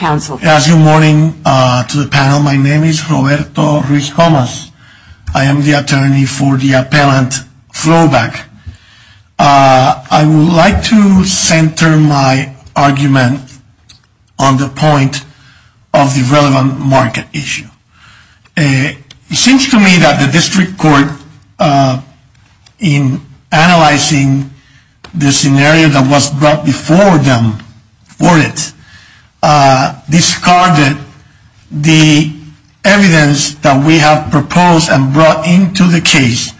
Good morning to the panel. My name is Roberto Ruiz Gomez. I am the attorney for the appellant Vovac. I would like to center my argument on the point of the relevant market issue. It seems to me that the district court, in analyzing the scenario that was brought before them for it, discarded the evidence that we have proposed and brought into the case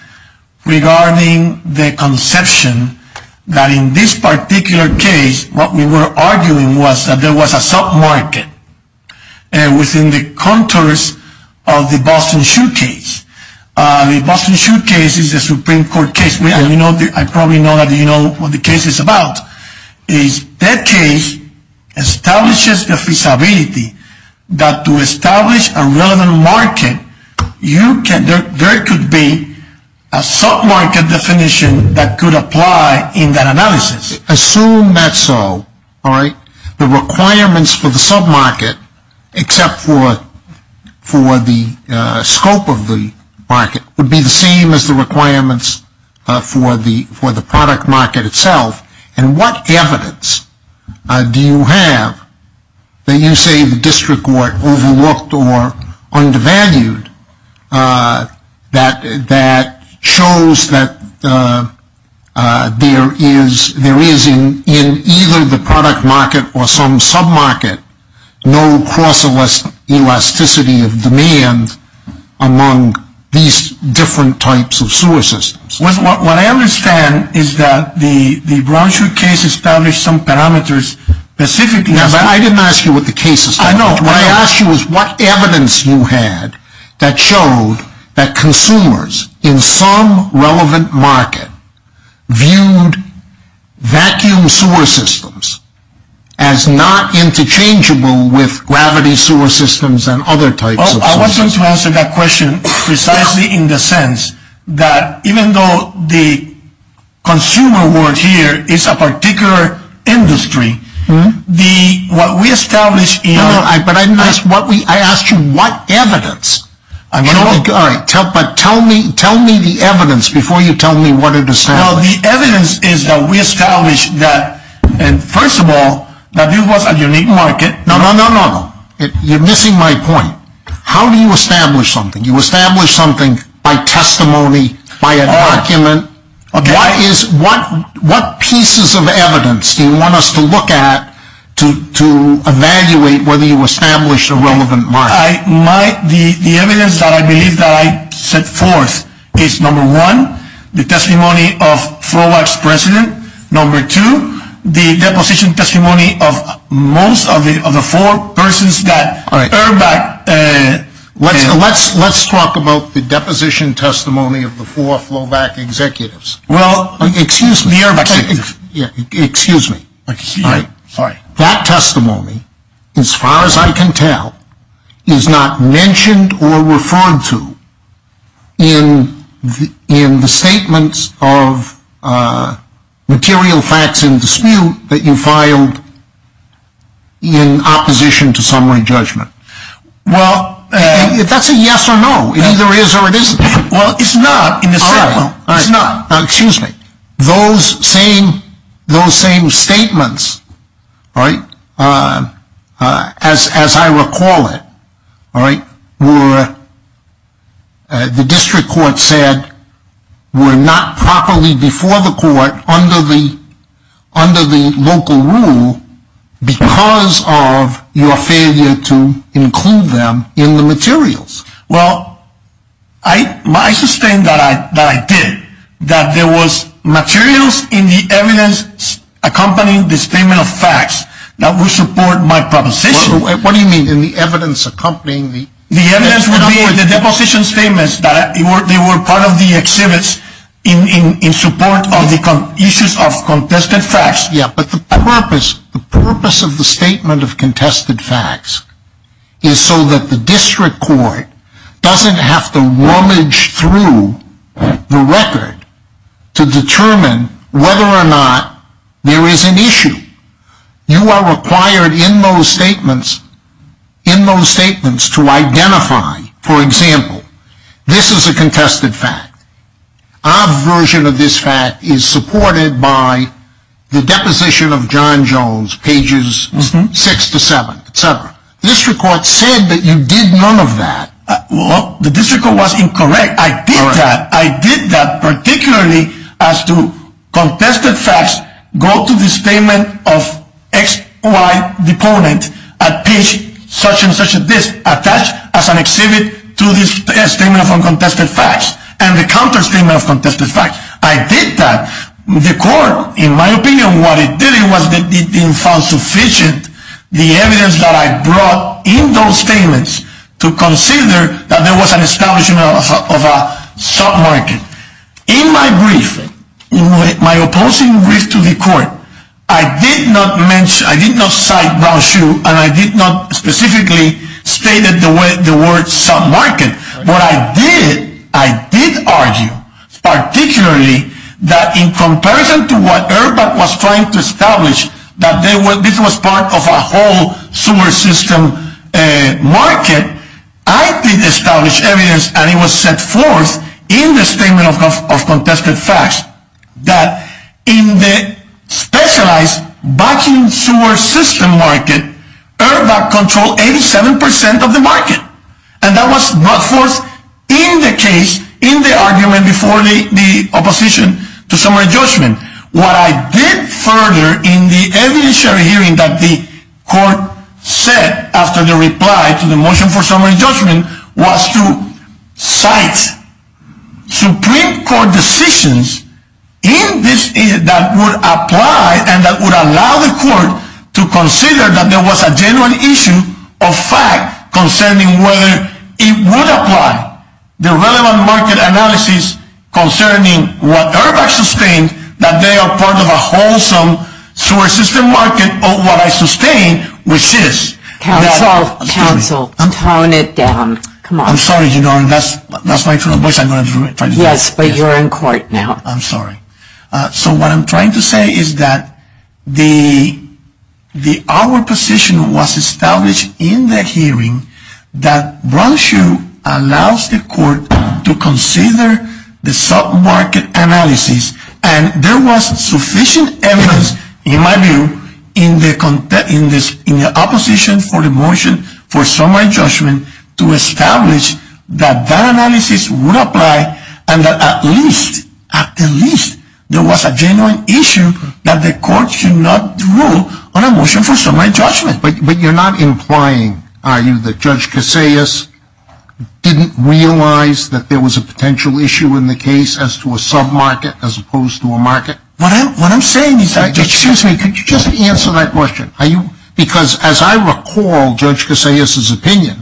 regarding the conception that in this particular case, what we were arguing was that there was a sub-market within the contours of the Boston Shoe case. The Boston Shoe case is a Supreme Court case. I probably know what the case is about. That case establishes the feasibility that to establish a relevant market, there could be a sub-market definition that could apply in that analysis. Assume that's so. The requirements for the sub-market, except for the scope of the market, would be the same as the requirements for the product market itself. What evidence do you have that you say the district court overlooked or undervalued that shows that there is, in either the product market or some sub-market, no cross-elasticity of demand among these different types of sewer systems? What I understand is that the Brown Shoe case established some parameters specifically… I didn't ask you what the case established. What I asked you was what evidence you had that showed that consumers in some relevant market viewed vacuum sewer systems as not interchangeable with gravity sewer systems and other types of sewer systems. I was going to answer that question precisely in the sense that even though the consumer word here is a particular industry, what we established in… No, no, but I didn't ask what we… I asked you what evidence. All right, but tell me the evidence before you tell me what it established. Well, the evidence is that we established that, first of all, that this was a unique market… No, no, no, you're missing my point. How do you establish something? You establish something by testimony, by an argument. What pieces of evidence do you want us to look at to evaluate whether you established a relevant market? The evidence that I believe that I set forth is, number one, the testimony of FLOVAC's president. Number two, the deposition testimony of most of the four persons that EIRVAC… Let's talk about the deposition testimony of the four FLOVAC executives. Well… Excuse me. The EIRVAC executives. Excuse me. Sorry. That testimony, as far as I can tell, is not mentioned or referred to in the statements of material facts in dispute that you filed in opposition to summary judgment. Well… That's a yes or no. It either is or it isn't. Well, it's not in the statement. Excuse me. Those same statements, as I recall it, were, the district court said, were not properly before the court under the local rule because of your failure to include them in the materials. Well, I sustain that I did, that there was materials in the evidence accompanying this statement of facts that would support my proposition. What do you mean in the evidence accompanying the… The evidence would be in the deposition statements that they were part of the exhibits in support of the issues of contested facts. Yeah, but the purpose of the statement of contested facts is so that the district court doesn't have to rummage through the record to determine whether or not there is an issue. You are required in those statements to identify, for example, this is a contested fact. Our version of this fact is supported by the deposition of John Jones, pages 6 to 7, etc. The district court said that you did none of that. I did that. The court, in my opinion, what it did was that it didn't find sufficient the evidence that I brought in those statements to consider that there was an establishment of a sub-market. In my brief, my opposing brief to the court, I did not mention, I did not cite Brown Shoe, and I did not specifically state the word sub-market. What I did, I did argue, particularly that in comparison to what EIRBAC was trying to establish, that this was part of a whole sewer system market, I did establish evidence, and it was set forth in the statement of contested facts, that in the specialized vacuum sewer system market, EIRBAC controlled 87% of the market. And that was brought forth in the case, in the argument before the opposition to summary judgment. What I did further in the evidentiary hearing that the court said after the reply to the motion for summary judgment was to cite Supreme Court decisions that would apply and that would allow the court to consider that there was a genuine issue of fact concerning whether it would apply the relevant market analysis concerning what EIRBAC sustained, that they are part of a wholesome sewer system market of what I sustained, which is... Counsel, counsel, tone it down. Come on. I'm sorry, you know, that's my fault. Yes, but you're in court now. I'm sorry. So what I'm trying to say is that our position was established in the hearing that Brown-Hsu allows the court to consider the sub-market analysis, and there was sufficient evidence in my view in the opposition for the motion for summary judgment to establish that that analysis would apply, and that at least, at least, there was a genuine issue that the court should not rule on a motion for summary judgment. But you're not implying, are you, that Judge Casayas didn't realize that there was a potential issue in the case as to a sub-market as opposed to a market? What I'm saying is... Excuse me. Could you just answer that question? Because as I recall Judge Casayas' opinion,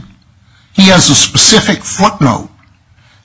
he has a specific footnote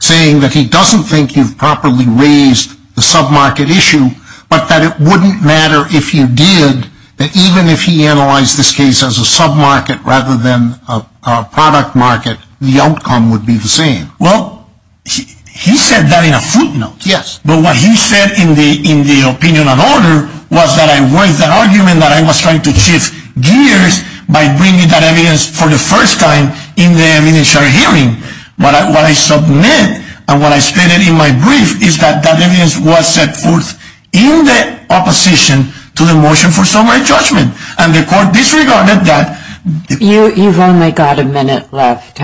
saying that he doesn't think you've properly raised the sub-market issue, but that it wouldn't matter if you did, that even if he analyzed this case as a sub-market rather than a product market, the outcome would be the same. Well, he said that in a footnote. Yes. But what he said in the opinion and order was that I raised the argument that I was trying to shift gears by bringing that evidence for the first time in the initial hearing. What I submit and what I stated in my brief is that that evidence was set forth in the opposition to the motion for summary judgment, and the court disregarded that. You've only got a minute left.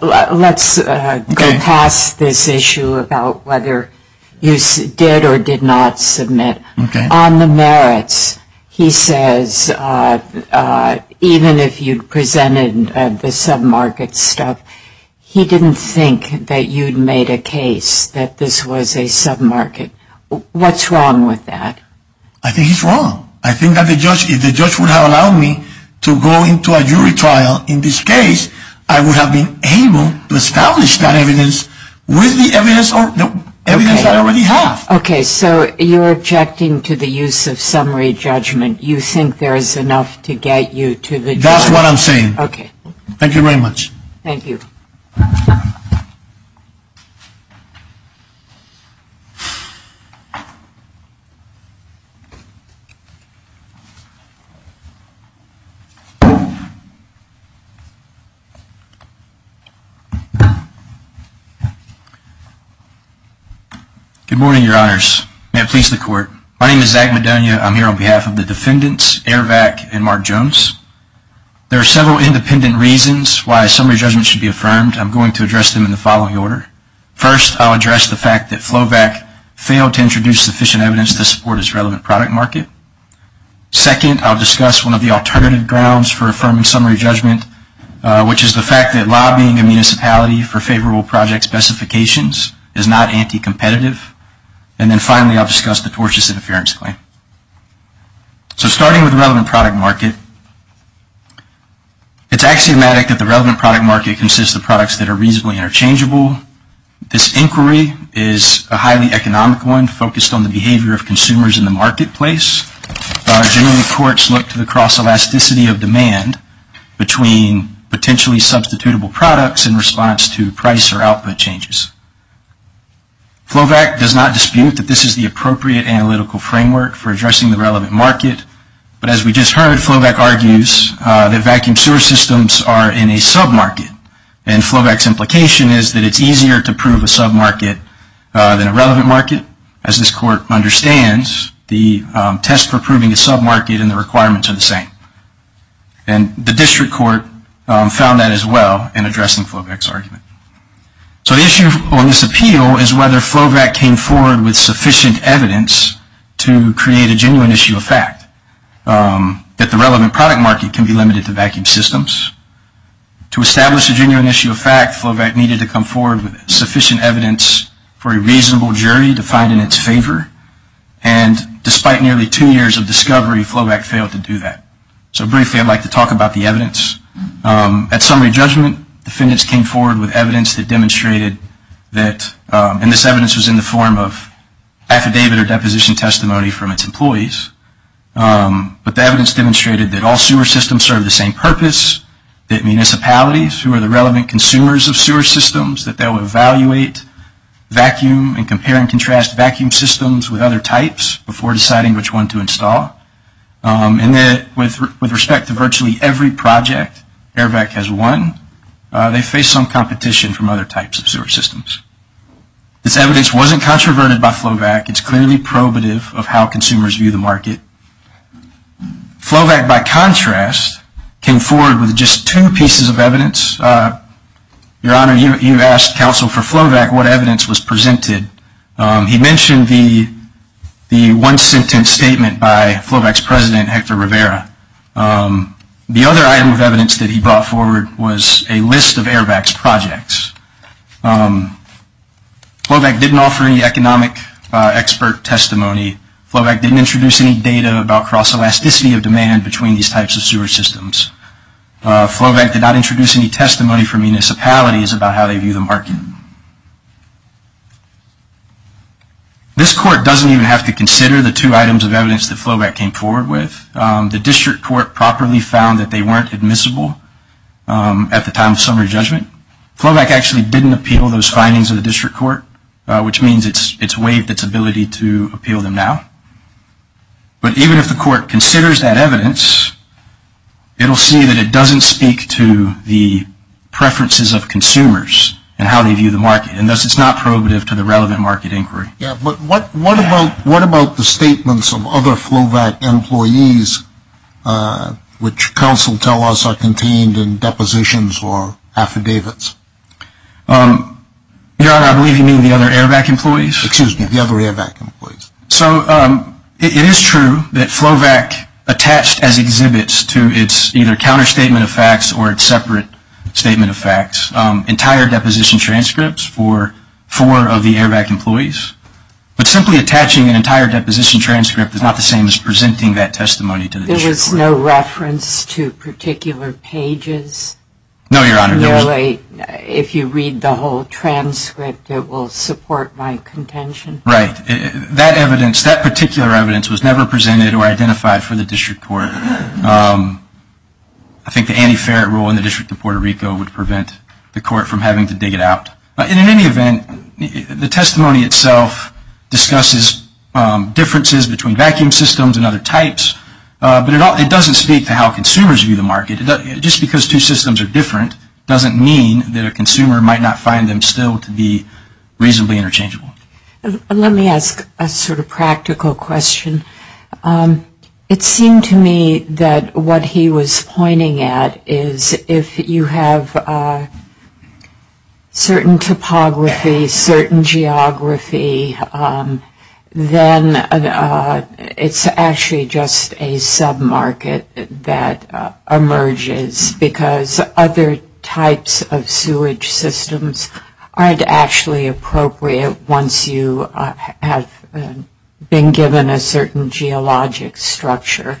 Let's go past this issue about whether you did or did not submit. Okay. On the merits, he says even if you presented the sub-market stuff, he didn't think that you'd made a case that this was a sub-market. What's wrong with that? I think he's wrong. I think that if the judge would have allowed me to go into a jury trial in this case, I would have been able to establish that evidence with the evidence that I already have. Okay. So you're objecting to the use of summary judgment. You think there is enough to get you to the jury? That's what I'm saying. Okay. Thank you very much. Thank you. Good morning, Your Honors. May it please the court. My name is Zach Madonia. I'm here on behalf of the defendants, Aravac and Mark Jones. There are several independent reasons why summary judgment should be affirmed. I'm going to address them in the following order. First, I'll address the fact that FLOVAC failed to introduce sufficient evidence to support its relevant product market. Second, I'll discuss one of the alternative grounds for affirming summary judgment, which is the fact that lobbying a municipality for favorable project specifications is not anti-competitive. And then finally, I'll discuss the tortious interference claim. So starting with relevant product market, it's axiomatic that the relevant product market consists of products that are reasonably interchangeable. This inquiry is a highly economic one focused on the behavior of consumers in the marketplace. Generally, courts look to the cross-elasticity of demand between potentially substitutable products in response to price or output changes. FLOVAC does not dispute that this is the appropriate analytical framework for addressing the relevant market. But as we just heard, FLOVAC argues that vacuum sewer systems are in a sub-market. And FLOVAC's implication is that it's easier to prove a sub-market than a relevant market. As this court understands, the test for proving a sub-market and the requirements are the same. And the district court found that as well in addressing FLOVAC's argument. So the issue on this appeal is whether FLOVAC came forward with sufficient evidence to create a genuine issue of fact, that the relevant product market can be limited to vacuum systems. To establish a genuine issue of fact, FLOVAC needed to come forward with sufficient evidence for a reasonable jury to find in its favor. And despite nearly two years of discovery, FLOVAC failed to do that. At summary judgment, defendants came forward with evidence that demonstrated that, and this evidence was in the form of affidavit or deposition testimony from its employees. But the evidence demonstrated that all sewer systems serve the same purpose, that municipalities who are the relevant consumers of sewer systems, that they will evaluate vacuum and compare and contrast vacuum systems with other types before deciding which one to install. And that with respect to virtually every project AIRVAC has won, they face some competition from other types of sewer systems. This evidence wasn't controverted by FLOVAC. It's clearly probative of how consumers view the market. FLOVAC, by contrast, came forward with just two pieces of evidence. Your Honor, you asked counsel for FLOVAC what evidence was presented. He mentioned the one-sentence statement by FLOVAC's president, Hector Rivera. The other item of evidence that he brought forward was a list of AIRVAC's projects. FLOVAC didn't offer any economic expert testimony. FLOVAC didn't introduce any data about cross-elasticity of demand between these types of sewer systems. FLOVAC did not introduce any testimony for municipalities about how they view the market. This court doesn't even have to consider the two items of evidence that FLOVAC came forward with. The district court properly found that they weren't admissible at the time of summary judgment. FLOVAC actually didn't appeal those findings of the district court, which means it's waived its ability to appeal them now. But even if the court considers that evidence, it will see that it doesn't speak to the preferences of consumers and how they view the market, and thus it's not probative to the relevant market inquiry. What about the statements of other FLOVAC employees which counsel tell us are contained in depositions or affidavits? Your Honor, I believe you mean the other AIRVAC employees? Excuse me, the other AIRVAC employees. So it is true that FLOVAC attached as exhibits to its either counterstatement of facts or its separate statement of facts entire deposition transcripts for four of the AIRVAC employees. But simply attaching an entire deposition transcript is not the same as presenting that testimony to the district court. There was no reference to particular pages? No, Your Honor. If you read the whole transcript, it will support my contention. Right. That evidence, that particular evidence was never presented or identified for the district court. I think the anti-ferret rule in the District of Puerto Rico would prevent the court from having to dig it out. In any event, the testimony itself discusses differences between vacuum systems and other types, but it doesn't speak to how consumers view the market. Just because two systems are different doesn't mean that a consumer might not find them still to be reasonably interchangeable. Let me ask a sort of practical question. It seemed to me that what he was pointing at is if you have certain topography, certain geography, then it's actually just a sub-market that emerges because other types of sewage systems aren't actually appropriate once you have been given a certain geologic structure.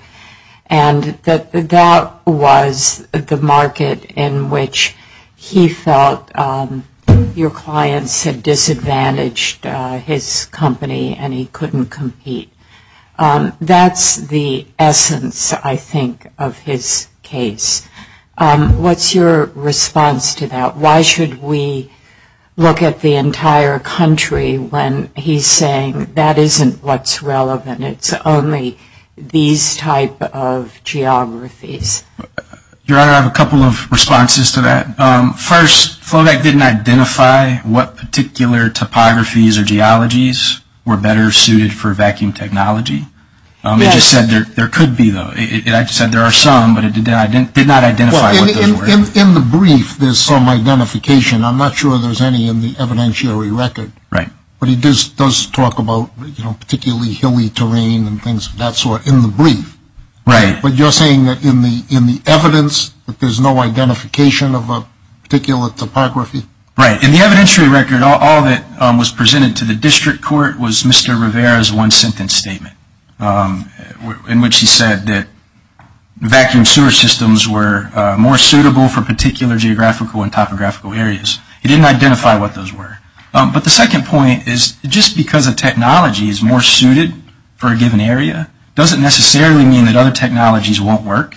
And that that was the market in which he felt your clients had disadvantaged his company and he couldn't compete. That's the essence, I think, of his case. What's your response to that? Why should we look at the entire country when he's saying that isn't what's relevant? It's only these type of geographies. Your Honor, I have a couple of responses to that. First, FLOVAC didn't identify what particular topographies or geologies were better suited for vacuum technology. It just said there could be, though. It said there are some, but it did not identify what those were. In the brief, there's some identification. I'm not sure there's any in the evidentiary record. Right. But he does talk about particularly hilly terrain and things of that sort in the brief. Right. But you're saying that in the evidence that there's no identification of a particular topography? Right. In the evidentiary record, all that was presented to the district court was Mr. Rivera's one-sentence statement in which he said that vacuum sewer systems were more suitable for particular geographical and topographical areas. He didn't identify what those were. But the second point is, just because a technology is more suited for a given area, doesn't necessarily mean that other technologies won't work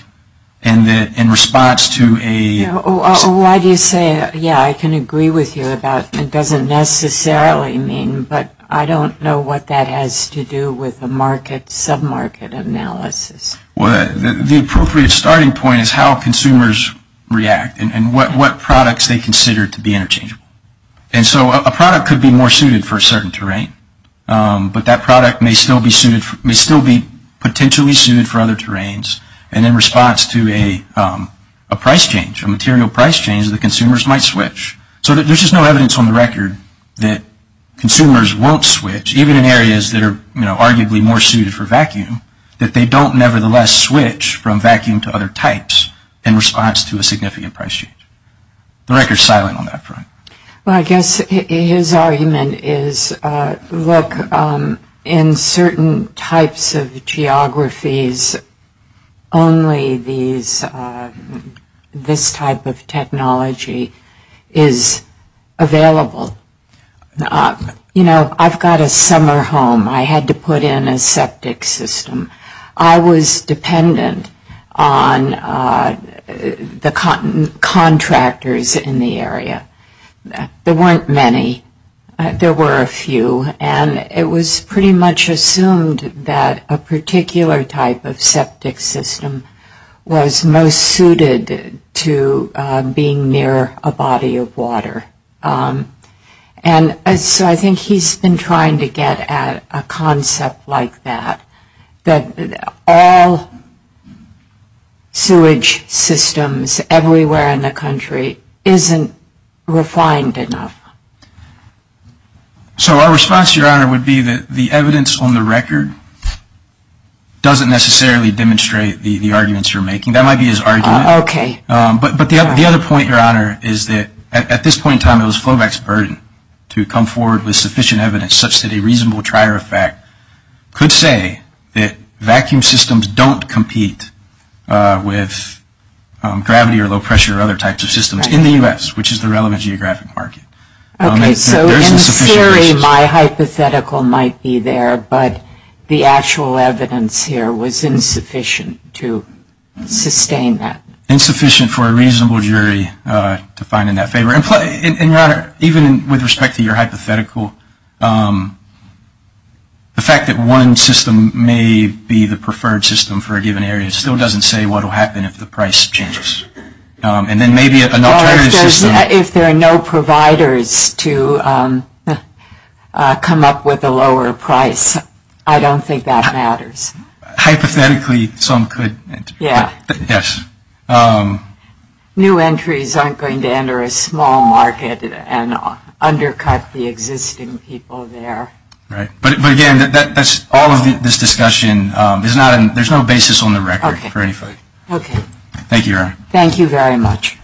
in response to a... Why do you say, yeah, I can agree with you about it doesn't necessarily mean, but I don't know what that has to do with a market, sub-market analysis. Well, the appropriate starting point is how consumers react and what products they consider to be interchangeable. And so a product could be more suited for a certain terrain, but that product may still be potentially suited for other terrains and in response to a price change, a material price change, the consumers might switch. So there's just no evidence on the record that consumers won't switch, even in areas that are arguably more suited for vacuum, that they don't nevertheless switch from vacuum to other types in response to a significant price change. The record is silent on that front. Well, I guess his argument is, look, in certain types of geographies, only this type of technology is available. You know, I've got a summer home. I had to put in a septic system. I was dependent on the contractors in the area. There weren't many. There were a few, and it was pretty much assumed that a particular type of septic system was most suited to being near a body of water. And so I think he's been trying to get at a concept like that, that all sewage systems everywhere in the country isn't refined enough. So our response, Your Honor, would be that the evidence on the record doesn't necessarily demonstrate the arguments you're making. That might be his argument. Okay. But the other point, Your Honor, is that at this point in time, it was FLOVAC's burden to come forward with sufficient evidence such that a reasonable trier effect could say that vacuum systems don't compete with gravity or low pressure or other types of systems in the U.S., which is the relevant geographic market. Okay. So in theory, my hypothetical might be there, but the actual evidence here was insufficient to sustain that. Insufficient for a reasonable jury to find in that favor. And, Your Honor, even with respect to your hypothetical, the fact that one system may be the preferred system for a given area still doesn't say what will happen if the price changes. And then maybe an alternative system. If there are no providers to come up with a lower price, I don't think that matters. Hypothetically, some could. Yeah. Yes. New entries aren't going to enter a small market and undercut the existing people there. Right. But, again, that's all of this discussion. There's no basis on the record for anything. Okay. Thank you, Your Honor. Thank you very much. All rise, please. The discussion of the honorable United States Court of Appeals is now recessed until 9 p.m. tomorrow morning. Thank you, Your Honor. Thank you.